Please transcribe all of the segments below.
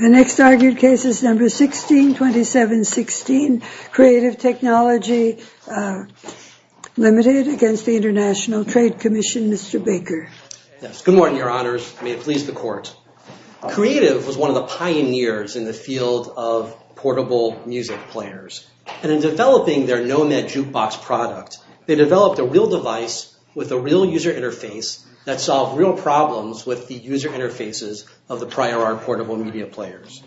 The next argued case is No. 162716, Creative Technology Ltd. v. The International Trade Commission, Mr. Baker. Good morning, Your Honors. May it please the Court. Creative was one of the pioneers in the field of portable music players, and in developing their Nomad jukebox product, they developed a real device with a real user interface that solved real problems with the user interfaces of the prior art portable media players.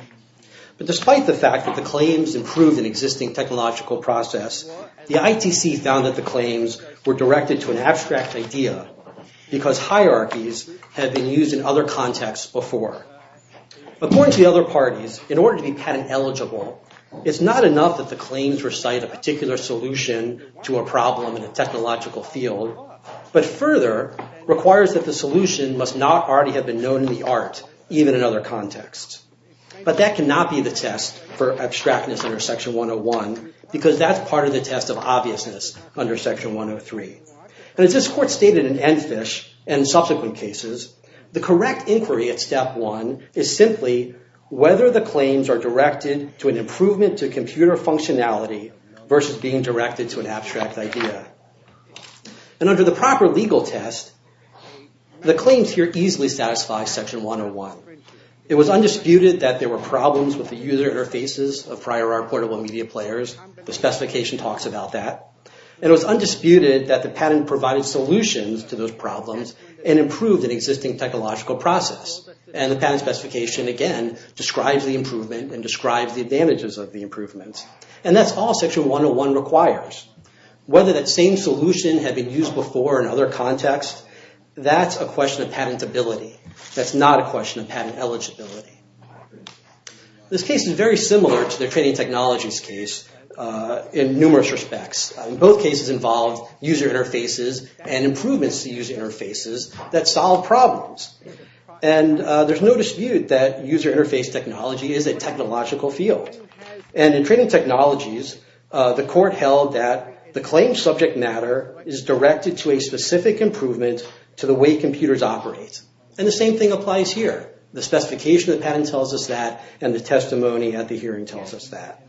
But despite the fact that the claims improved an existing technological process, the ITC found that the claims were directed to an abstract idea, because hierarchies had been used in other contexts before. According to the other parties, in order to be patent eligible, it's not enough that the claims recite a particular solution to a problem in a technological field, but further, requires that the solution must not already have been known in the art, even in other contexts. But that cannot be the test for abstractness under Section 101, because that's part of the test of obviousness under Section 103. And as this Court stated in Enfish and subsequent cases, the correct inquiry at Step 1 is simply whether the claims are directed to an improvement to computer functionality versus being directed to an abstract idea. And under the proper legal test, the claims here easily satisfy Section 101. It was undisputed that there were problems with the user interfaces of prior art portable media players. The specification talks about that. And it was undisputed that the patent provided solutions to those problems and improved an existing technological process. And the patent specification, again, describes the improvement and describes the advantages of the improvements. And that's all Section 101 requires. Whether that same solution had been used before in other contexts, that's a question of patentability. That's not a question of patent eligibility. This case is very similar to the training technologies case in numerous respects. Both cases involved user interfaces and improvements to user interfaces that solve problems. And there's no dispute that user interface technology is a technological field. And in training technologies, the Court held that the claims subject matter is directed to a specific improvement to the way computers operate. And the same thing applies here. The specification of the patent tells us that, and the testimony at the hearing tells us that.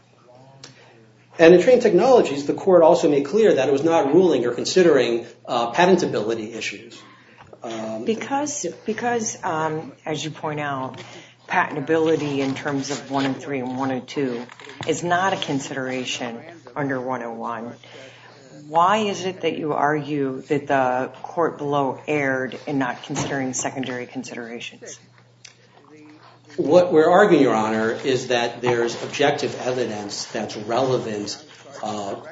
And in training technologies, the Court also made clear that it was not ruling or considering patentability issues. Because as you point out, patentability in terms of 103 and 102 is not a consideration under 101, why is it that you argue that the court below erred in not considering secondary considerations? What we're arguing, Your Honor, is that there's objective evidence that's relevant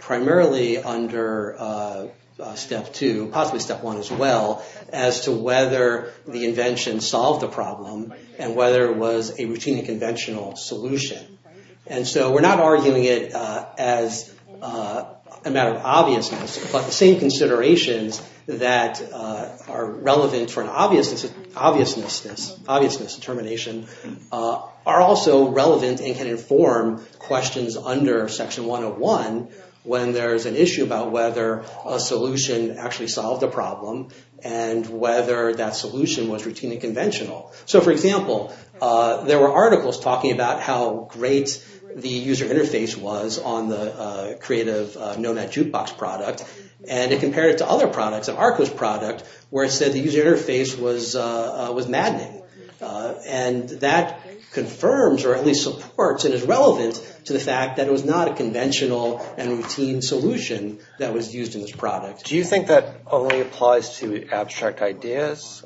primarily under Step 2, possibly Step 1 as well, as to whether the invention solved the problem and whether it was a routine and conventional solution. And so we're not arguing it as a matter of obviousness, but the same considerations that are relevant for an obviousness determination are also relevant and can inform questions under Section 101 when there's an issue about whether a solution actually solved the problem and whether that solution was routine and conventional. So for example, there were articles talking about how great the user interface was on the creative Nomad Jukebox product. And it compared it to other products, like Arco's product, where it said the user interface was maddening. And that confirms or at least supports and is relevant to the fact that it was not a conventional and routine solution that was used in this product. Do you think that only applies to abstract ideas,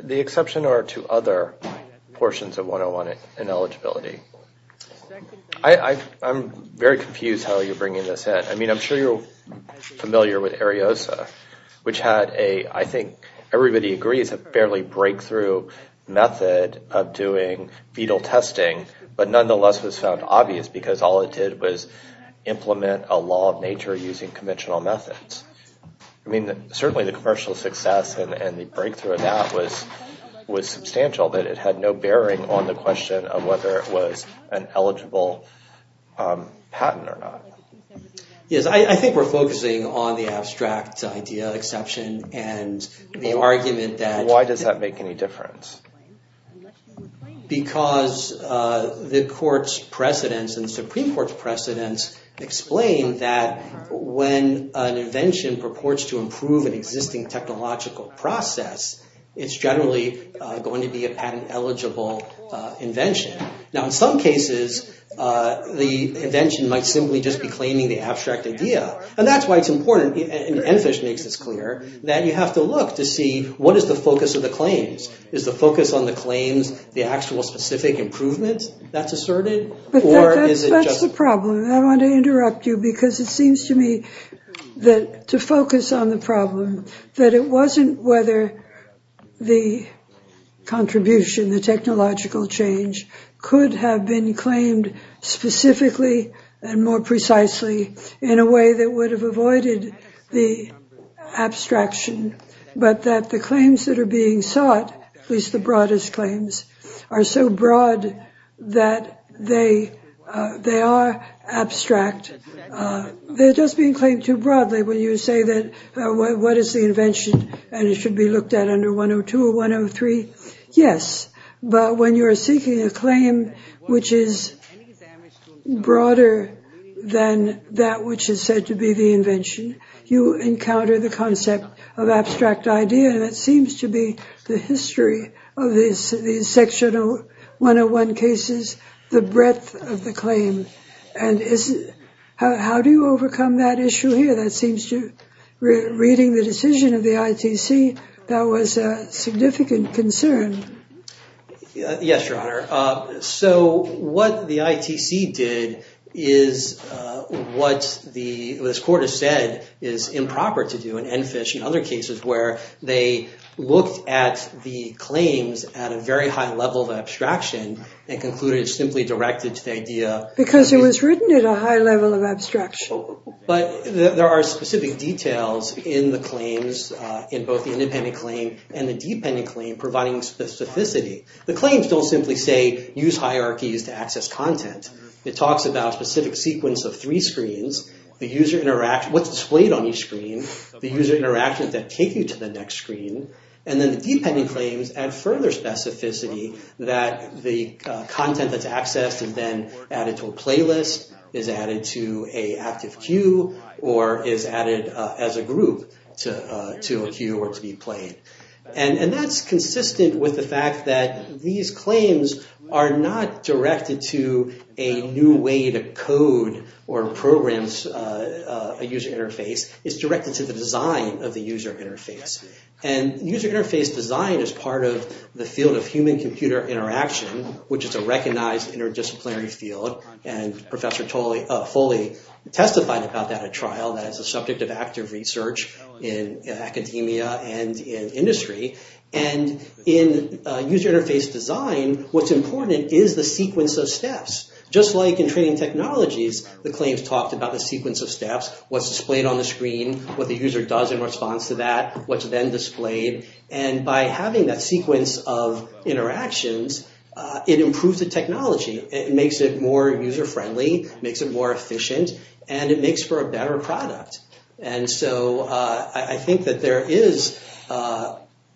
the exception or to other portions of 101 and eligibility? I'm very confused how you're bringing this in. I mean, I'm sure you're familiar with Ariosa, which had a, I think everybody agrees, a fairly breakthrough method of doing fetal testing, but nonetheless was found obvious because all it did was implement a law of nature using conventional methods. I mean, certainly the commercial success and the breakthrough of that was substantial, but I feel that it had no bearing on the question of whether it was an eligible patent or not. Yes, I think we're focusing on the abstract idea exception and the argument that... Why does that make any difference? Because the court's precedents and the Supreme Court's precedents explain that when an invention purports to improve an existing technological process, it's generally going to be a patent-eligible invention. Now, in some cases, the invention might simply just be claiming the abstract idea, and that's why it's important, and EnFISH makes this clear, that you have to look to see what is the focus of the claims. Is the focus on the claims the actual specific improvement that's asserted, or is it just... The focus on the problem, that it wasn't whether the contribution, the technological change, could have been claimed specifically and more precisely in a way that would have avoided the abstraction, but that the claims that are being sought, at least the broadest claims, are so broad that they are abstract. They're just being claimed too broadly when you say that, what is the invention, and it should be looked at under 102 or 103. Yes, but when you're seeking a claim which is broader than that which is said to be the invention, you encounter the concept of abstract idea, and it seems to be the history of these section 101 cases, the breadth of the claim, and how do you overcome that issue here? That seems to... Reading the decision of the ITC, that was a significant concern. Yes, Your Honor. So what the ITC did is what the court has said is improper to do, and EnFISH and other institutions have written at a high level of abstraction and concluded it's simply directed to the idea... Because it was written at a high level of abstraction. But there are specific details in the claims, in both the independent claim and the dependent claim, providing specificity. The claims don't simply say, use hierarchies to access content. It talks about a specific sequence of three screens, the user interaction, what's displayed on each screen, the user interactions that take you to the next screen, and then the user specificity that the content that's accessed and then added to a playlist is added to a active queue or is added as a group to a queue or to be played. And that's consistent with the fact that these claims are not directed to a new way to code or programs a user interface. It's directed to the design of the user interface. And user interface design is part of the field of human-computer interaction, which is a recognized interdisciplinary field. And Professor Foley testified about that at trial, that it's a subject of active research in academia and in industry. And in user interface design, what's important is the sequence of steps. Just like in training technologies, the claims talked about the sequence of steps, what's then displayed, and by having that sequence of interactions, it improves the technology. It makes it more user-friendly, makes it more efficient, and it makes for a better product. And so, I think that there is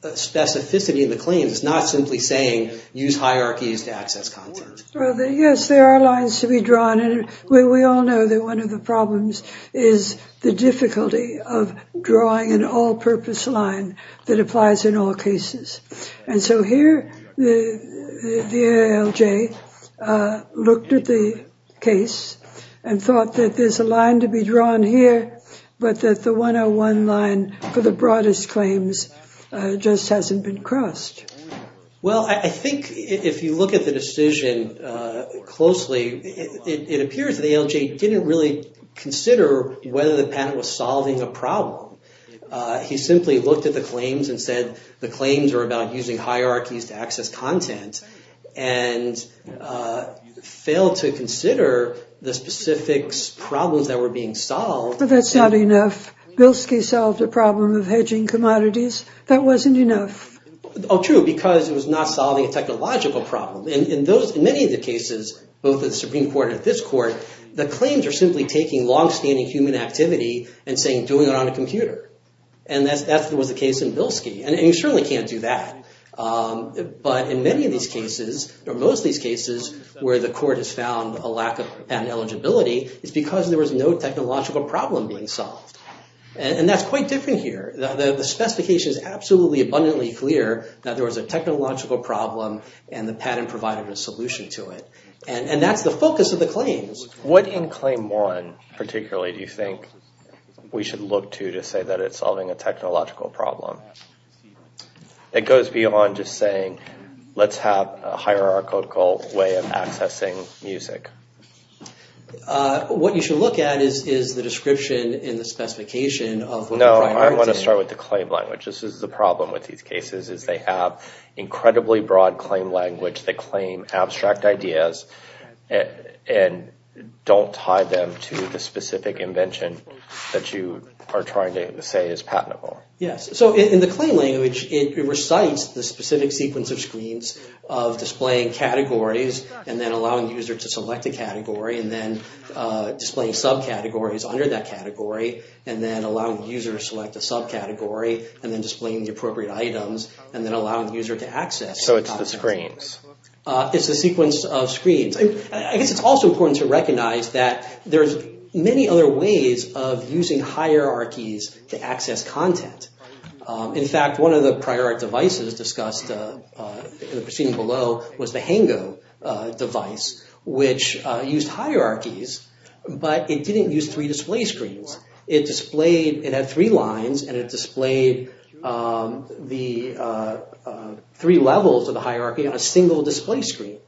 specificity in the claims. It's not simply saying, use hierarchies to access content. Well, yes, there are lines to be drawn, and we all know that one of the problems is the 101 line that applies in all cases. And so here, the ALJ looked at the case and thought that there's a line to be drawn here, but that the 101 line for the broadest claims just hasn't been crossed. Well, I think if you look at the decision closely, it appears that the ALJ didn't really consider whether the patent was solving a problem. He simply looked at the claims and said, the claims are about using hierarchies to access content, and failed to consider the specific problems that were being solved. But that's not enough. Bilski solved a problem of hedging commodities. That wasn't enough. Oh, true, because it was not solving a technological problem. In many of the cases, both at the Supreme Court and at this court, the claims are simply taking long-standing human activity and saying, doing it on a computer. And that was the case in Bilski, and you certainly can't do that. But in many of these cases, or most of these cases, where the court has found a lack of patent eligibility, it's because there was no technological problem being solved. And that's quite different here. The specification is absolutely abundantly clear that there was a technological problem and the patent provided a solution to it. And that's the focus of the claims. What in Claim 1, particularly, do you think we should look to to say that it's solving a technological problem? It goes beyond just saying, let's have a hierarchical way of accessing music. What you should look at is the description in the specification of what the primary is. No, I want to start with the claim language. This is the problem with these cases, is they have incredibly broad claim language. They claim abstract ideas and don't tie them to the specific invention that you are trying to say is patentable. Yes. So in the claim language, it recites the specific sequence of screens of displaying categories and then allowing the user to select a category and then displaying subcategories under that category and then allowing the user to select a subcategory and then displaying the appropriate items and then allowing the user to access. So it's the screens. It's a sequence of screens. I guess it's also important to recognize that there's many other ways of using hierarchies to access content. In fact, one of the prior devices discussed in the proceeding below was the Hango device, which used hierarchies, but it didn't use three display screens. It displayed, it had three lines and it displayed the three levels of the hierarchy on a single display screen.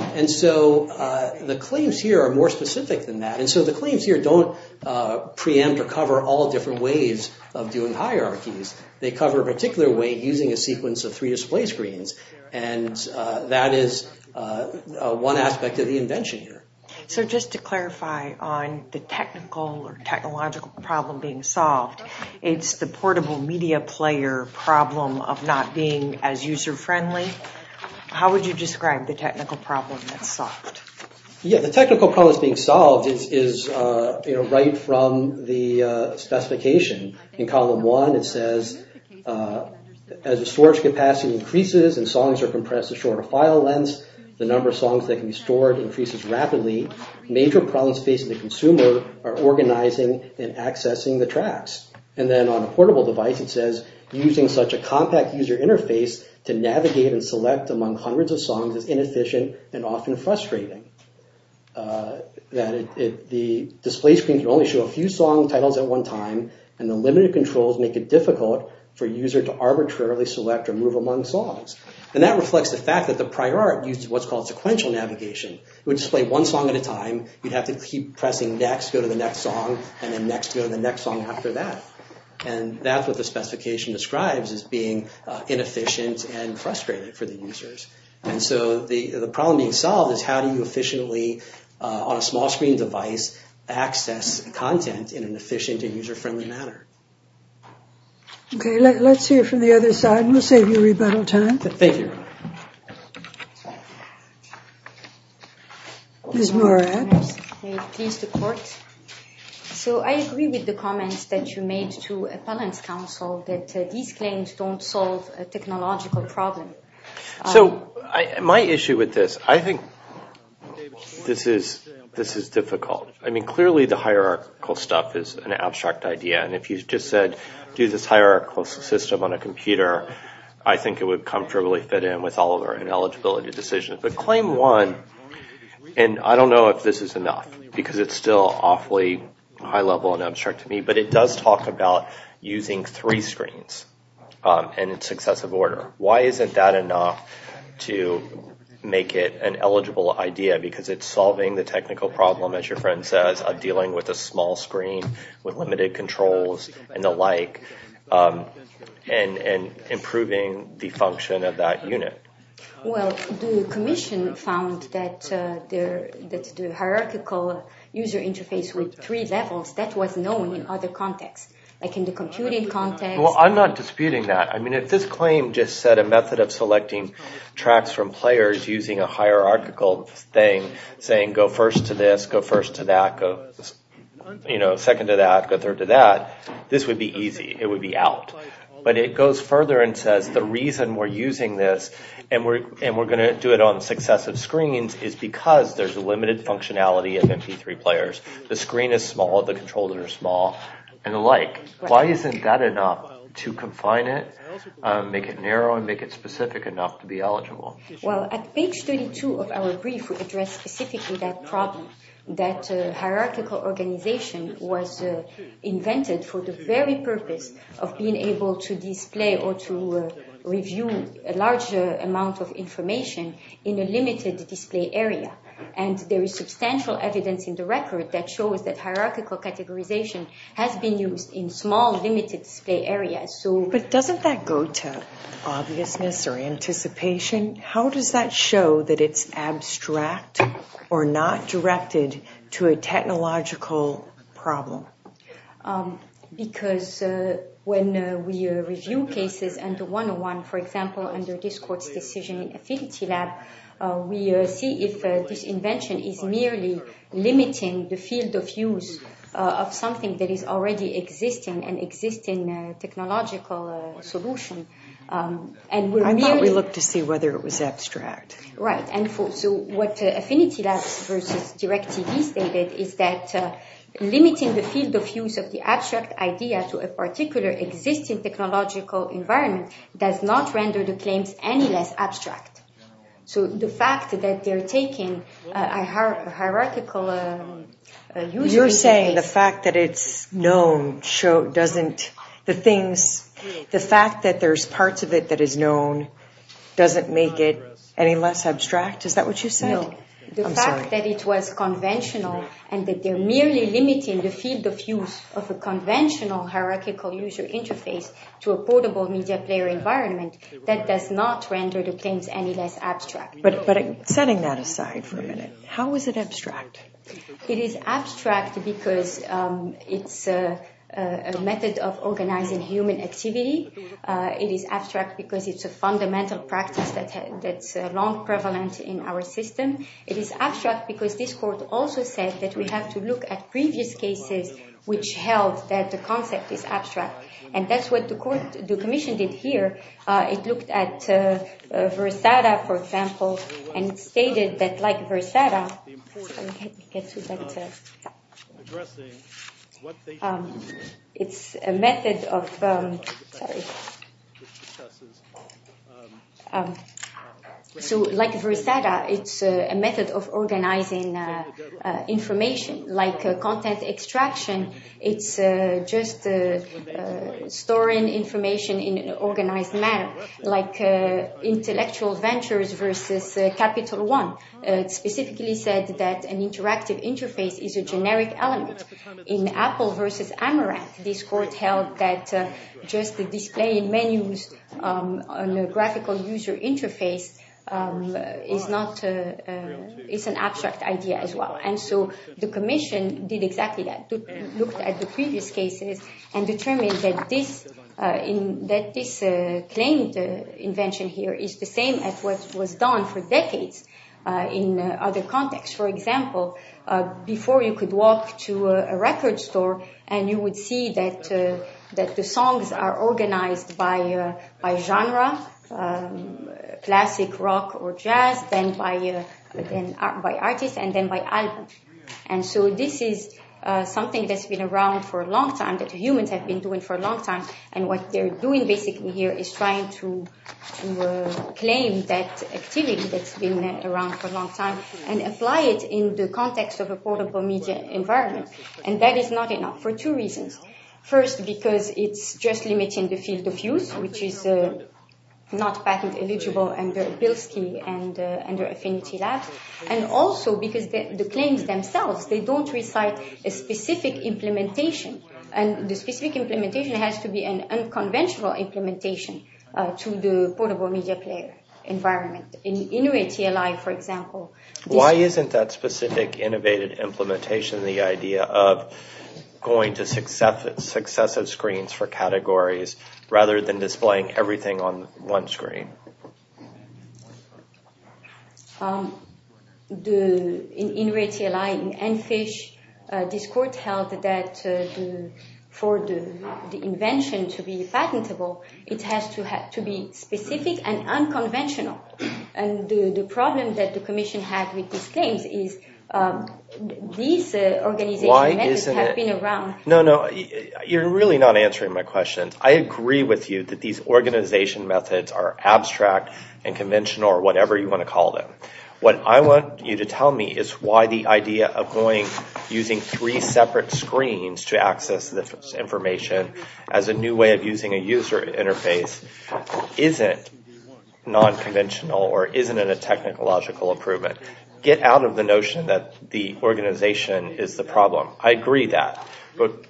And so the claims here are more specific than that. And so the claims here don't preempt or cover all different ways of doing hierarchies. They cover a particular way using a sequence of three display screens. And that is one aspect of the invention here. So just to clarify on the technical or technological problem being solved, it's the portable media player problem of not being as user friendly. How would you describe the technical problem that's solved? Yeah, the technical problem that's being solved is right from the specification in column one. It says as the storage capacity increases and songs are compressed to shorter file lengths, the number of songs that can be stored increases rapidly. Major problems facing the consumer are organizing and accessing the tracks. And then on a portable device, it says using such a compact user interface to navigate and select among hundreds of songs is inefficient and often frustrating. That the display screen can only show a few song titles at one time and the limited controls make it difficult for a user to arbitrarily select or move among songs. And that reflects the fact that the prior art used what's called sequential navigation. It would display one song at a time. You'd have to keep pressing next, go to the next song, and then next go to the next song after that. And that's what the specification describes as being inefficient and frustrated for the users. And so the problem being solved is how do you efficiently on a small screen device access content in an efficient and user friendly manner? OK, let's hear from the other side. We'll save you rebuttal time. Thank you. Ms. Morad. So I agree with the comments that you made to Appellant's Council that these claims don't solve a technological problem. So my issue with this, I think this is difficult. I mean, clearly the hierarchical stuff is an abstract idea. And if you just said, do this hierarchical system on a computer, I think it would comfortably fit in with all of our ineligibility decisions. But claim one, and I don't know if this is enough because it's still awfully high level and abstract to me, but it does talk about using three screens in successive order. Why isn't that enough to make it an eligible idea? Because it's solving the technical problem, as your friend says, of dealing with a small screen with limited controls and the like and improving the function of that unit. Well, the commission found that the hierarchical user interface with three levels, that was known in other contexts, like in the computing context. Well, I'm not disputing that. I mean, if this claim just said a method of selecting tracks from players using a hierarchical thing, saying go first to this, go first to that, go second to that, go third to that, this would be easy. It would be out. But it goes further and says the reason we're using this and we're going to do it on successive screens is because there's a limited functionality of MP3 players. The screen is small, the controls are small and the like. Why isn't that enough to confine it, make it narrow and make it specific enough to be eligible? Well, at page 32 of our brief, we address specifically that problem, that hierarchical organization was invented for the very purpose of being able to display or to review a larger amount of information in a limited display area. And there is substantial evidence in the record that shows that hierarchical categorization has been used in small, limited display areas. But doesn't that go to obviousness or anticipation? How does that show that it's abstract or not directed to a technological problem? Because when we review cases under 101, for example, under this court's decision in limiting the field of use of something that is already existing, an existing technological solution. I thought we looked to see whether it was abstract. Right. And so what Affinity Labs versus DirecTV stated is that limiting the field of use of the abstract idea to a particular existing technological environment does not render the claims any less abstract. So the fact that they're taking a hierarchical user interface You're saying the fact that it's known doesn't, the things, the fact that there's parts of it that is known doesn't make it any less abstract? Is that what you said? No. The fact that it was conventional and that they're merely limiting the field of conventional hierarchical user interface to a portable media player environment, that does not render the claims any less abstract. But setting that aside for a minute, how is it abstract? It is abstract because it's a method of organizing human activity. It is abstract because it's a fundamental practice that's long prevalent in our system. It is abstract because this held that the concept is abstract. And that's what the commission did here. It looked at Versada, for example, and stated that like Versada, it's a method of organizing information like content extraction. It's just storing information in an organized manner like intellectual ventures versus Capital One. It specifically said that an interactive interface is a generic element. In Apple versus Amaranth, this court held that just displaying menus on a graphical user interface is an abstract idea as well. And so the commission did exactly that, looked at the previous cases and determined that this claimed invention here is the same as what was done for decades in other contexts. For example, before you could walk to a record store and you would see that the songs are organized by genre, classic rock or jazz, then by artist and then by album. And so this is something that's been around for a long time, that humans have been doing for a long time. And what they're doing basically here is trying to claim that activity that's been around for a long time and apply it in the media. And this is not enough for two reasons. First, because it's just limiting the field of use, which is not patent eligible under Bilski and Affinity Labs. And also because the claims themselves, they don't recite a specific implementation. And the specific implementation has to be an unconventional implementation to the portable media player environment. In Inuit TLI, for example. Why isn't that specific innovated implementation the idea of going to successive screens for categories rather than displaying everything on one screen? In Inuit TLI, in Enfish, this court held that for the invention to be patentable, it has to be specific and unconventional. And the problem that the commission had with these claims is these organization methods have been around. No, no, you're really not answering my question. I agree with you that these organization methods are abstract and conventional or whatever you want to call them. What I want you to tell me is why the idea of using three separate screens to access this information as a new way of using a user interface isn't non-conventional or isn't in a technological improvement. Get out of the notion that the organization is the problem. I agree that. But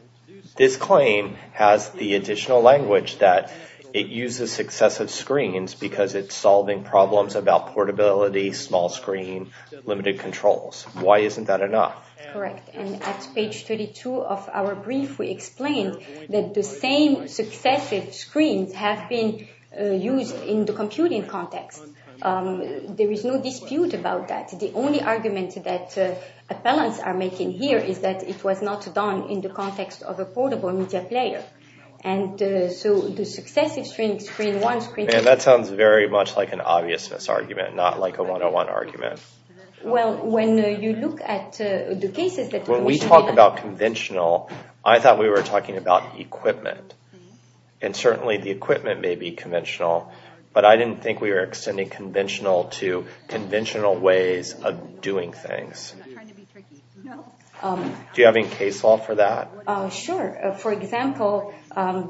this claim has the additional language that it uses successive screens because it's solving problems about portability, small screen, limited controls. Why isn't that enough? Correct. And at page 32 of our brief, we explain that the same successive screens have been used in the computing context. There is no dispute about that. The only argument that appellants are making here is that it was not done in the context of a portable media player. And so the successive screen, one screen… Man, that sounds very much like an obvious misargument, not like a one-on-one argument. Well, when you look at the cases that… When we talk about conventional, I thought we were talking about equipment. And certainly the equipment may be conventional, but I didn't think we were extending conventional to conventional ways of doing things. I'm not trying to be tricky. Do you have any case law for that? Sure. For example,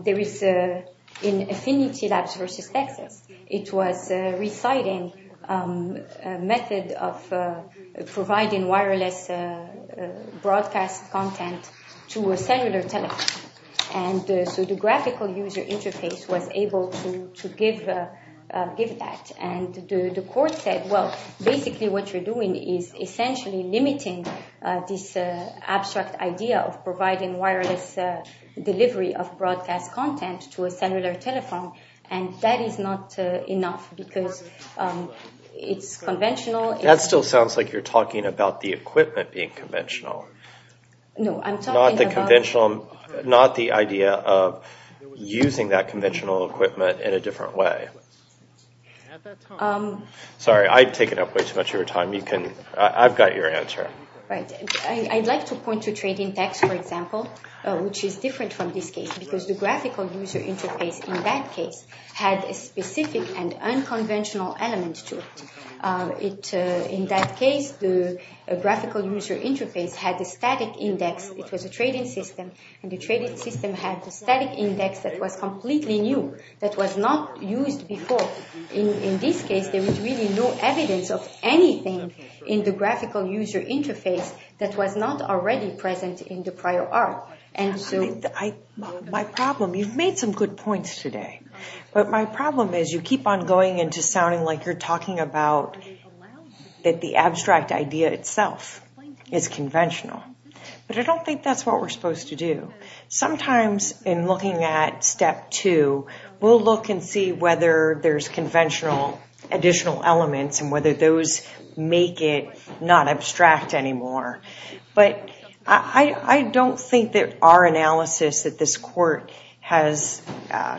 there is in Affinity Labs versus Texas, it was reciting a method of providing wireless broadcast content to a cellular telephone. And so the graphical user interface was able to give that. And the court said, well, basically what you're doing is essentially limiting this abstract idea of providing wireless delivery of broadcast content to a cellular telephone. And that is not enough because it's conventional… That still sounds like you're talking about the equipment being conventional. No, I'm talking about… Not the idea of using that conventional equipment in a different way. At that time… I've got your answer. I'd like to point to Trade Index, for example, which is different from this case because the graphical user interface in that case had a specific and unconventional element to it. In that case, the graphical user interface had the static index. It was a trading system. And the trading system had the static index that was completely new, that was not used before. In this case, there was really no evidence of anything in the graphical user interface that was not already present in the prior art. My problem… You've made some good points today. But my problem is you keep on going into sounding like you're talking about that the abstract idea itself is conventional. But I don't think that's what we're supposed to do. Sometimes in looking at step two, we'll look and see whether there's conventional additional elements and whether those make it not abstract anymore. But I don't think that our analysis that this court has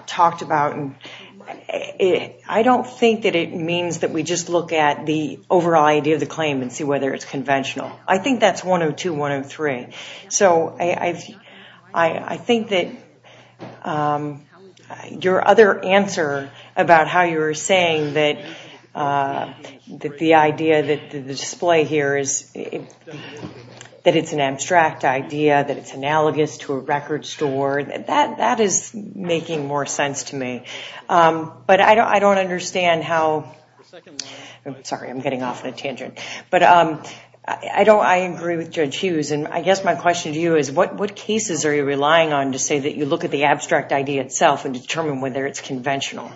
talked about… I don't think that it means that we just look at the overall idea of the claim and see whether it's conventional. I think that's 102, 103. So I think that your other answer about how you were saying that the idea that the display here is that it's an abstract idea, that it's analogous to a record store, that is making more sense to me. But I don't understand how… Sorry, I'm getting off on a tangent. But I agree with Judge Hughes, and I guess my question to you is what cases are you relying on to say that you look at the abstract idea itself and determine whether it's conventional?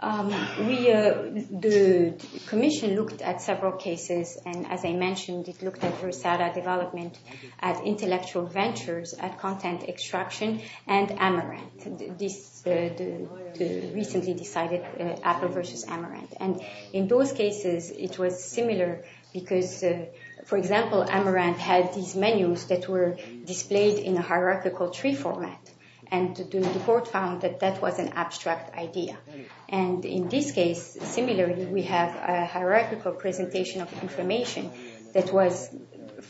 The commission looked at several cases, and as I mentioned, it looked at Rosada development, at intellectual ventures, at content extraction, and Amaranth. They recently decided Apple versus Amaranth. And in those cases, it was similar because, for example, Amaranth had these menus that were displayed in a hierarchical tree format, and the court found that that was an abstract idea. And in this case, similarly, we have a hierarchical presentation of information that was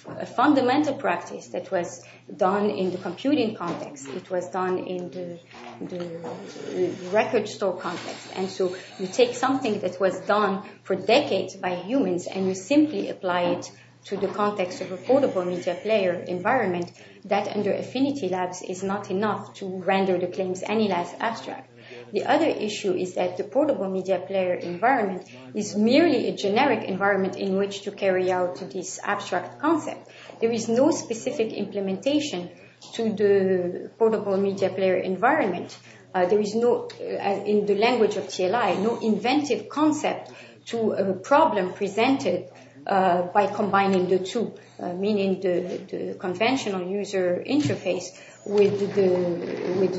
a fundamental practice that was done in the computing context. It was done in the record store context. And so you take something that was done for decades by humans, and you simply apply it to the context of a portable media player environment, that under Affinity Labs is not enough to render the claims any less abstract. The other issue is that the portable media player environment is merely a generic environment in which to carry out this abstract concept. There is no specific implementation to the portable media player environment. There is no, in the language of TLI, no inventive concept to a problem presented by combining the two, meaning the conventional user interface with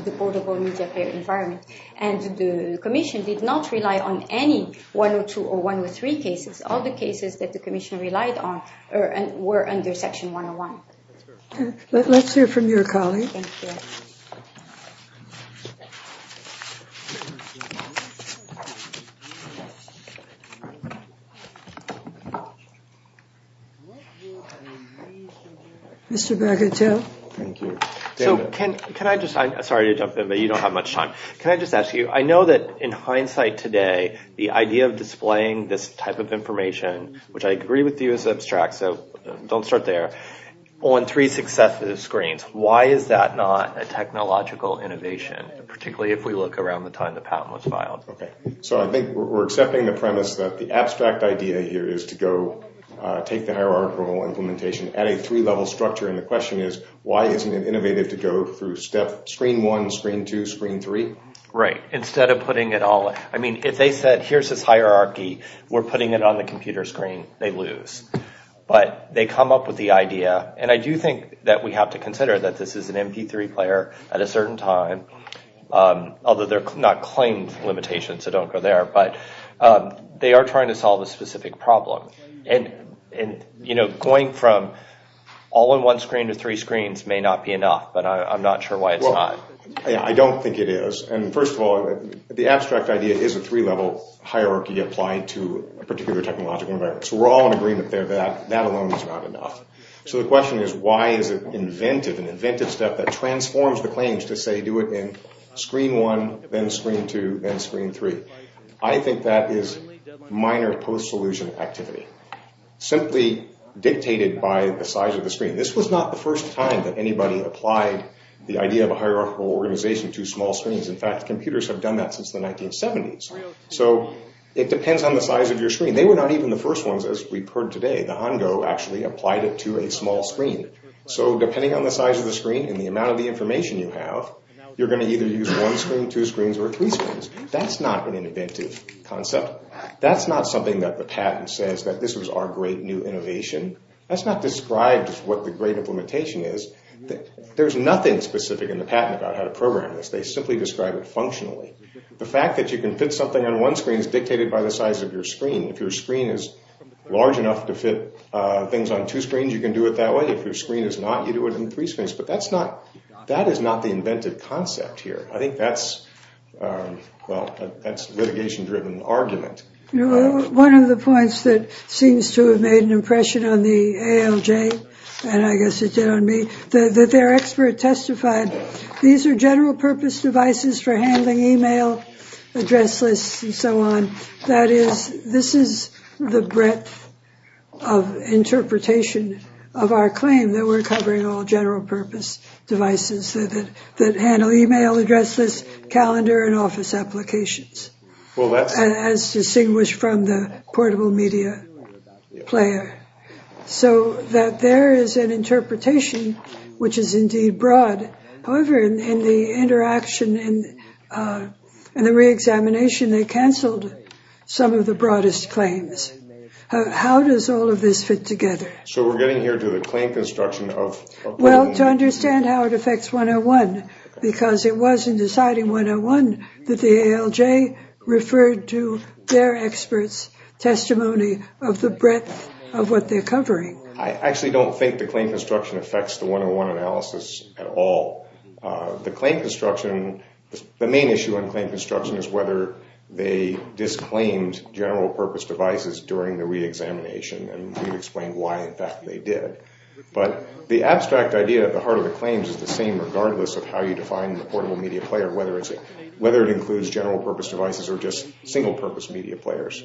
the portable media player environment. And the commission did not rely on any one or two or one or three cases. All the cases that the commission relied on were under Section 101. Let's hear from your colleague. Mr. Bagatelle. Thank you. So can I just, I'm sorry to jump in, but you don't have much time. Can I just ask you, I know that in hindsight today, the idea of displaying this type of information, which I agree with you is abstract, so don't start there, on three successive screens, why is that not a technological innovation, particularly if we look around the time the patent was filed? Okay. So I think we're accepting the premise that the abstract idea here is to go take the hierarchical implementation at a three-level structure, and the question is, why isn't it innovative to go through screen one, screen two, screen three? Right. Instead of putting it all, I mean, if they said, here's this hierarchy, we're putting it on the computer screen, they lose. But they come up with the idea, and I do think that we have to consider that this is an MP3 player at a certain time, although they're not claimed limitations, so don't go there, but they are trying to solve a specific problem. And going from all in one screen to three screens may not be enough, but I'm not sure why it's not. Well, I don't think it is. And first of all, the abstract idea is a three-level hierarchy applied to a particular technological environment. So we're all in agreement there that that alone is not enough. So the question is, why is it inventive, an inventive step that transforms the claims to say, do it in screen one, then screen two, then screen three? I think that is minor post-solution activity, simply dictated by the size of the screen. This was not the first time that anybody applied the idea of a hierarchical organization to So it depends on the size of your screen. They were not even the first ones, as we've heard today. The Hongo actually applied it to a small screen. So depending on the size of the screen and the amount of the information you have, you're going to either use one screen, two screens, or three screens. That's not an inventive concept. That's not something that the patent says that this was our great new innovation. That's not described as what the great implementation is. There's nothing specific in the patent about how to The fact that you can fit something on one screen is dictated by the size of your screen. If your screen is large enough to fit things on two screens, you can do it that way. If your screen is not, you do it in three screens. But that is not the inventive concept here. I think that's a litigation-driven argument. One of the points that seems to have made an impression on the ALJ, and I guess it did on me, that their expert testified, these are general-purpose devices for handling email, address lists, and so on. That is, this is the breadth of interpretation of our claim that we're covering all general-purpose devices that handle email, address lists, calendar, and office applications, as distinguished from the portable media player. So that there is an interpretation which is indeed broad. However, in the interaction and the reexamination, they canceled some of the broadest claims. How does all of this fit together? So we're getting here to the claim construction of a patent. Well, to understand how it affects 101, because it was in deciding 101 that the ALJ referred to their experts' testimony of the breadth of what they're covering. I actually don't think the claim construction affects the 101 analysis at all. The claim construction, the main issue on claim construction is whether they disclaimed general-purpose devices during the reexamination, and we've explained why in fact they did. But the abstract idea at the heart of the claims is the same regardless of how you define the portable media player, whether it includes general-purpose devices or just single-purpose media players.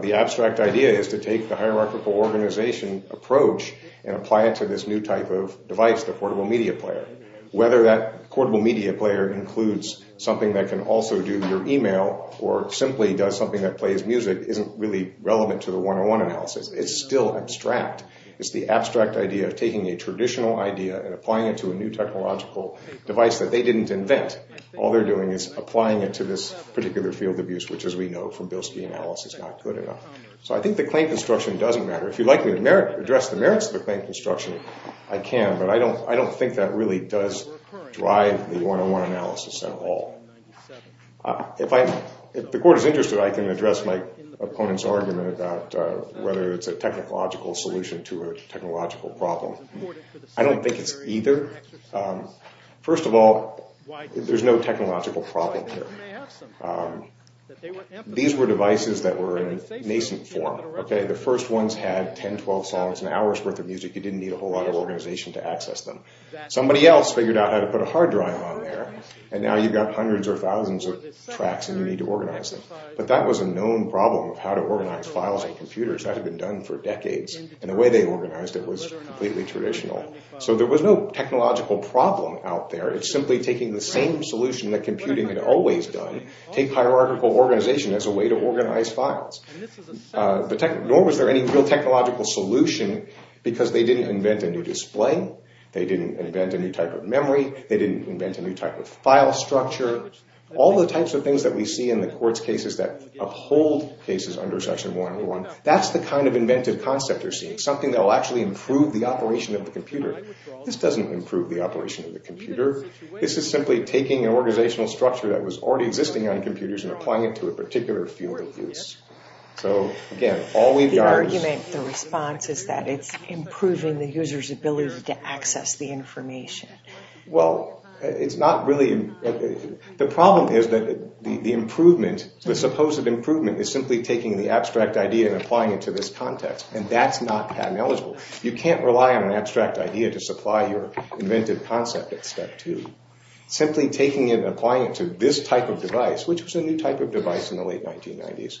The abstract idea is to take the hierarchical organization approach and apply it to this new type of device, the portable media player. Whether that portable media player includes something that can also do your email or simply does something that plays music isn't really relevant to the 101 analysis. It's still abstract. It's the abstract idea of taking a traditional idea and applying it to a new technological device that they didn't invent. All they're doing is applying it to this particular field of use, which as we know from Bilski analysis is not good enough. So I think the claim construction doesn't matter. If you'd like me to address the merits of the claim construction, I can, but I don't think that really does drive the 101 analysis at all. If the court is interested, I can address my opponent's argument about whether it's a technological solution to a technological problem. I don't think it's either. First of all, there's no technological problem here. These were devices that were in nascent form. The first ones had 10, 12 songs, an hour's worth of music. You didn't need a whole lot of organization to access them. Somebody else figured out how to put a hard drive on there, and now you've got hundreds or thousands of tracks and you need to organize them. But that was a known problem of how to organize files on computers. That had been done for decades, and the way they organized it was completely traditional. So there was no technological problem out there. It's simply taking the same solution that computing had always done, take hierarchical organization as a way to organize files. Nor was there any real technological solution because they didn't invent a new display, they didn't invent a new type of memory, they didn't invent a new type of file structure. All the types of things that we see in the court's cases that uphold cases under section 101, that's the kind of inventive concept you're seeing. Something that will actually improve the operation of the computer. This doesn't improve the operation of the computer. This is simply taking an organizational structure that was already existing on computers and applying it to a particular field of use. The argument, the response, is that it's improving the user's ability to access the information. Well, it's not really... The problem is that the improvement, the supposed improvement, is simply taking the abstract idea and applying it to this context. And that's not patent eligible. You can't rely on an abstract idea to supply your inventive concept at step two. Simply taking it and applying it to this type of device, which was a new type of device in the late 1990s,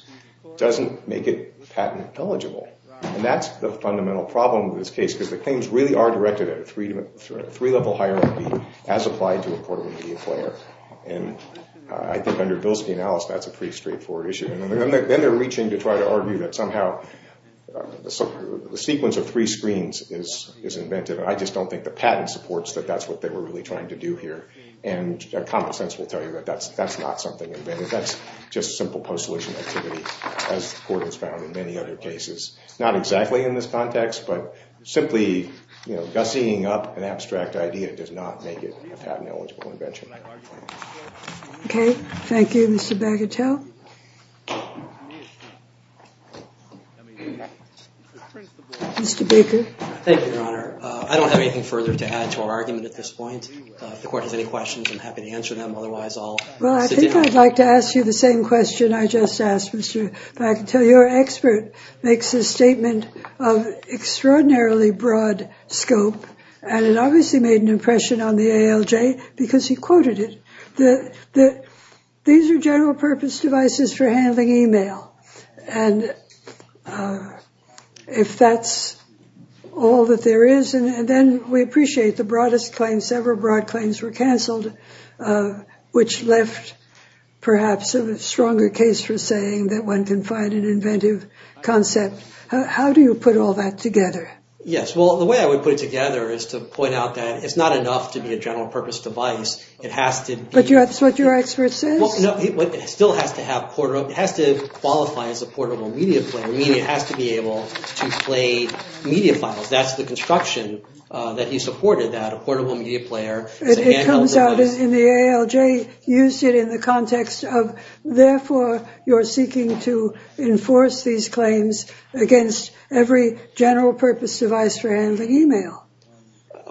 doesn't make it patent eligible. And that's the fundamental problem with this case, because the claims really are directed at a three-level hierarchy as applied to a portable media player. And I think under Bilski and Alice, that's a pretty straightforward issue. And then they're reaching to try to argue that somehow the sequence of three screens is inventive. And I just don't think the patent supports that that's what they were really trying to do here. And common sense will tell you that that's not something inventive. That's just simple post-solution activity, as the court has found in many other cases. Not exactly in this context, but simply gussying up an abstract idea does not make it a patent eligible invention. Okay. Thank you, Mr. Bagatelle. Mr. Baker. Thank you, Your Honor. I don't have anything further to add to our argument at this point. If the court has any questions, I'm happy to answer them. Otherwise, I'll sit down. Well, I think I'd like to ask you the same question I just asked Mr. Bagatelle. You're an expert, makes a statement of extraordinarily broad scope. And it obviously made an impression on the ALJ because he quoted it. These are general purpose devices for handling email. And if that's all that there is, and then we appreciate the broadest claim, several broad claims were canceled, which left perhaps a stronger case for saying that one can find an inventive concept. How do you put all that together? Yes. Well, the way I would put it together is to point out that it's not enough to be a general purpose device. It has to be... But that's what your expert says. It still has to qualify as a portable media player, meaning it has to be able to play media files. That's the construction that he supported, that a portable media player is a handheld device. But in the ALJ, you see it in the context of, therefore, you're seeking to enforce these claims against every general purpose device for handling email.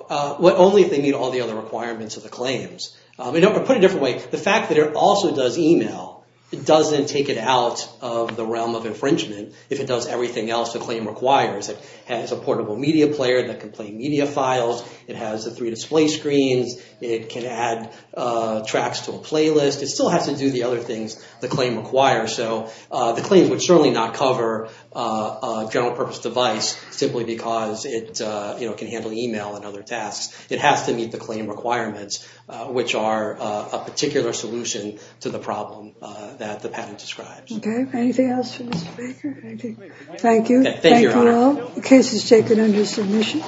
Only if they meet all the other requirements of the claims. Put it a different way, the fact that it also does email, it doesn't take it out of the realm of infringement. If it does everything else a claim requires, it has a portable media player that can play media files. It has the three display screens. It can add tracks to a playlist. It still has to do the other things the claim requires. So the claim would certainly not cover a general purpose device simply because it can handle email and other tasks. It has to meet the claim requirements, which are a particular solution to the problem that the patent describes. Okay, anything else for Mr. Baker? Thank you. Thank you all. The case is taken under submission.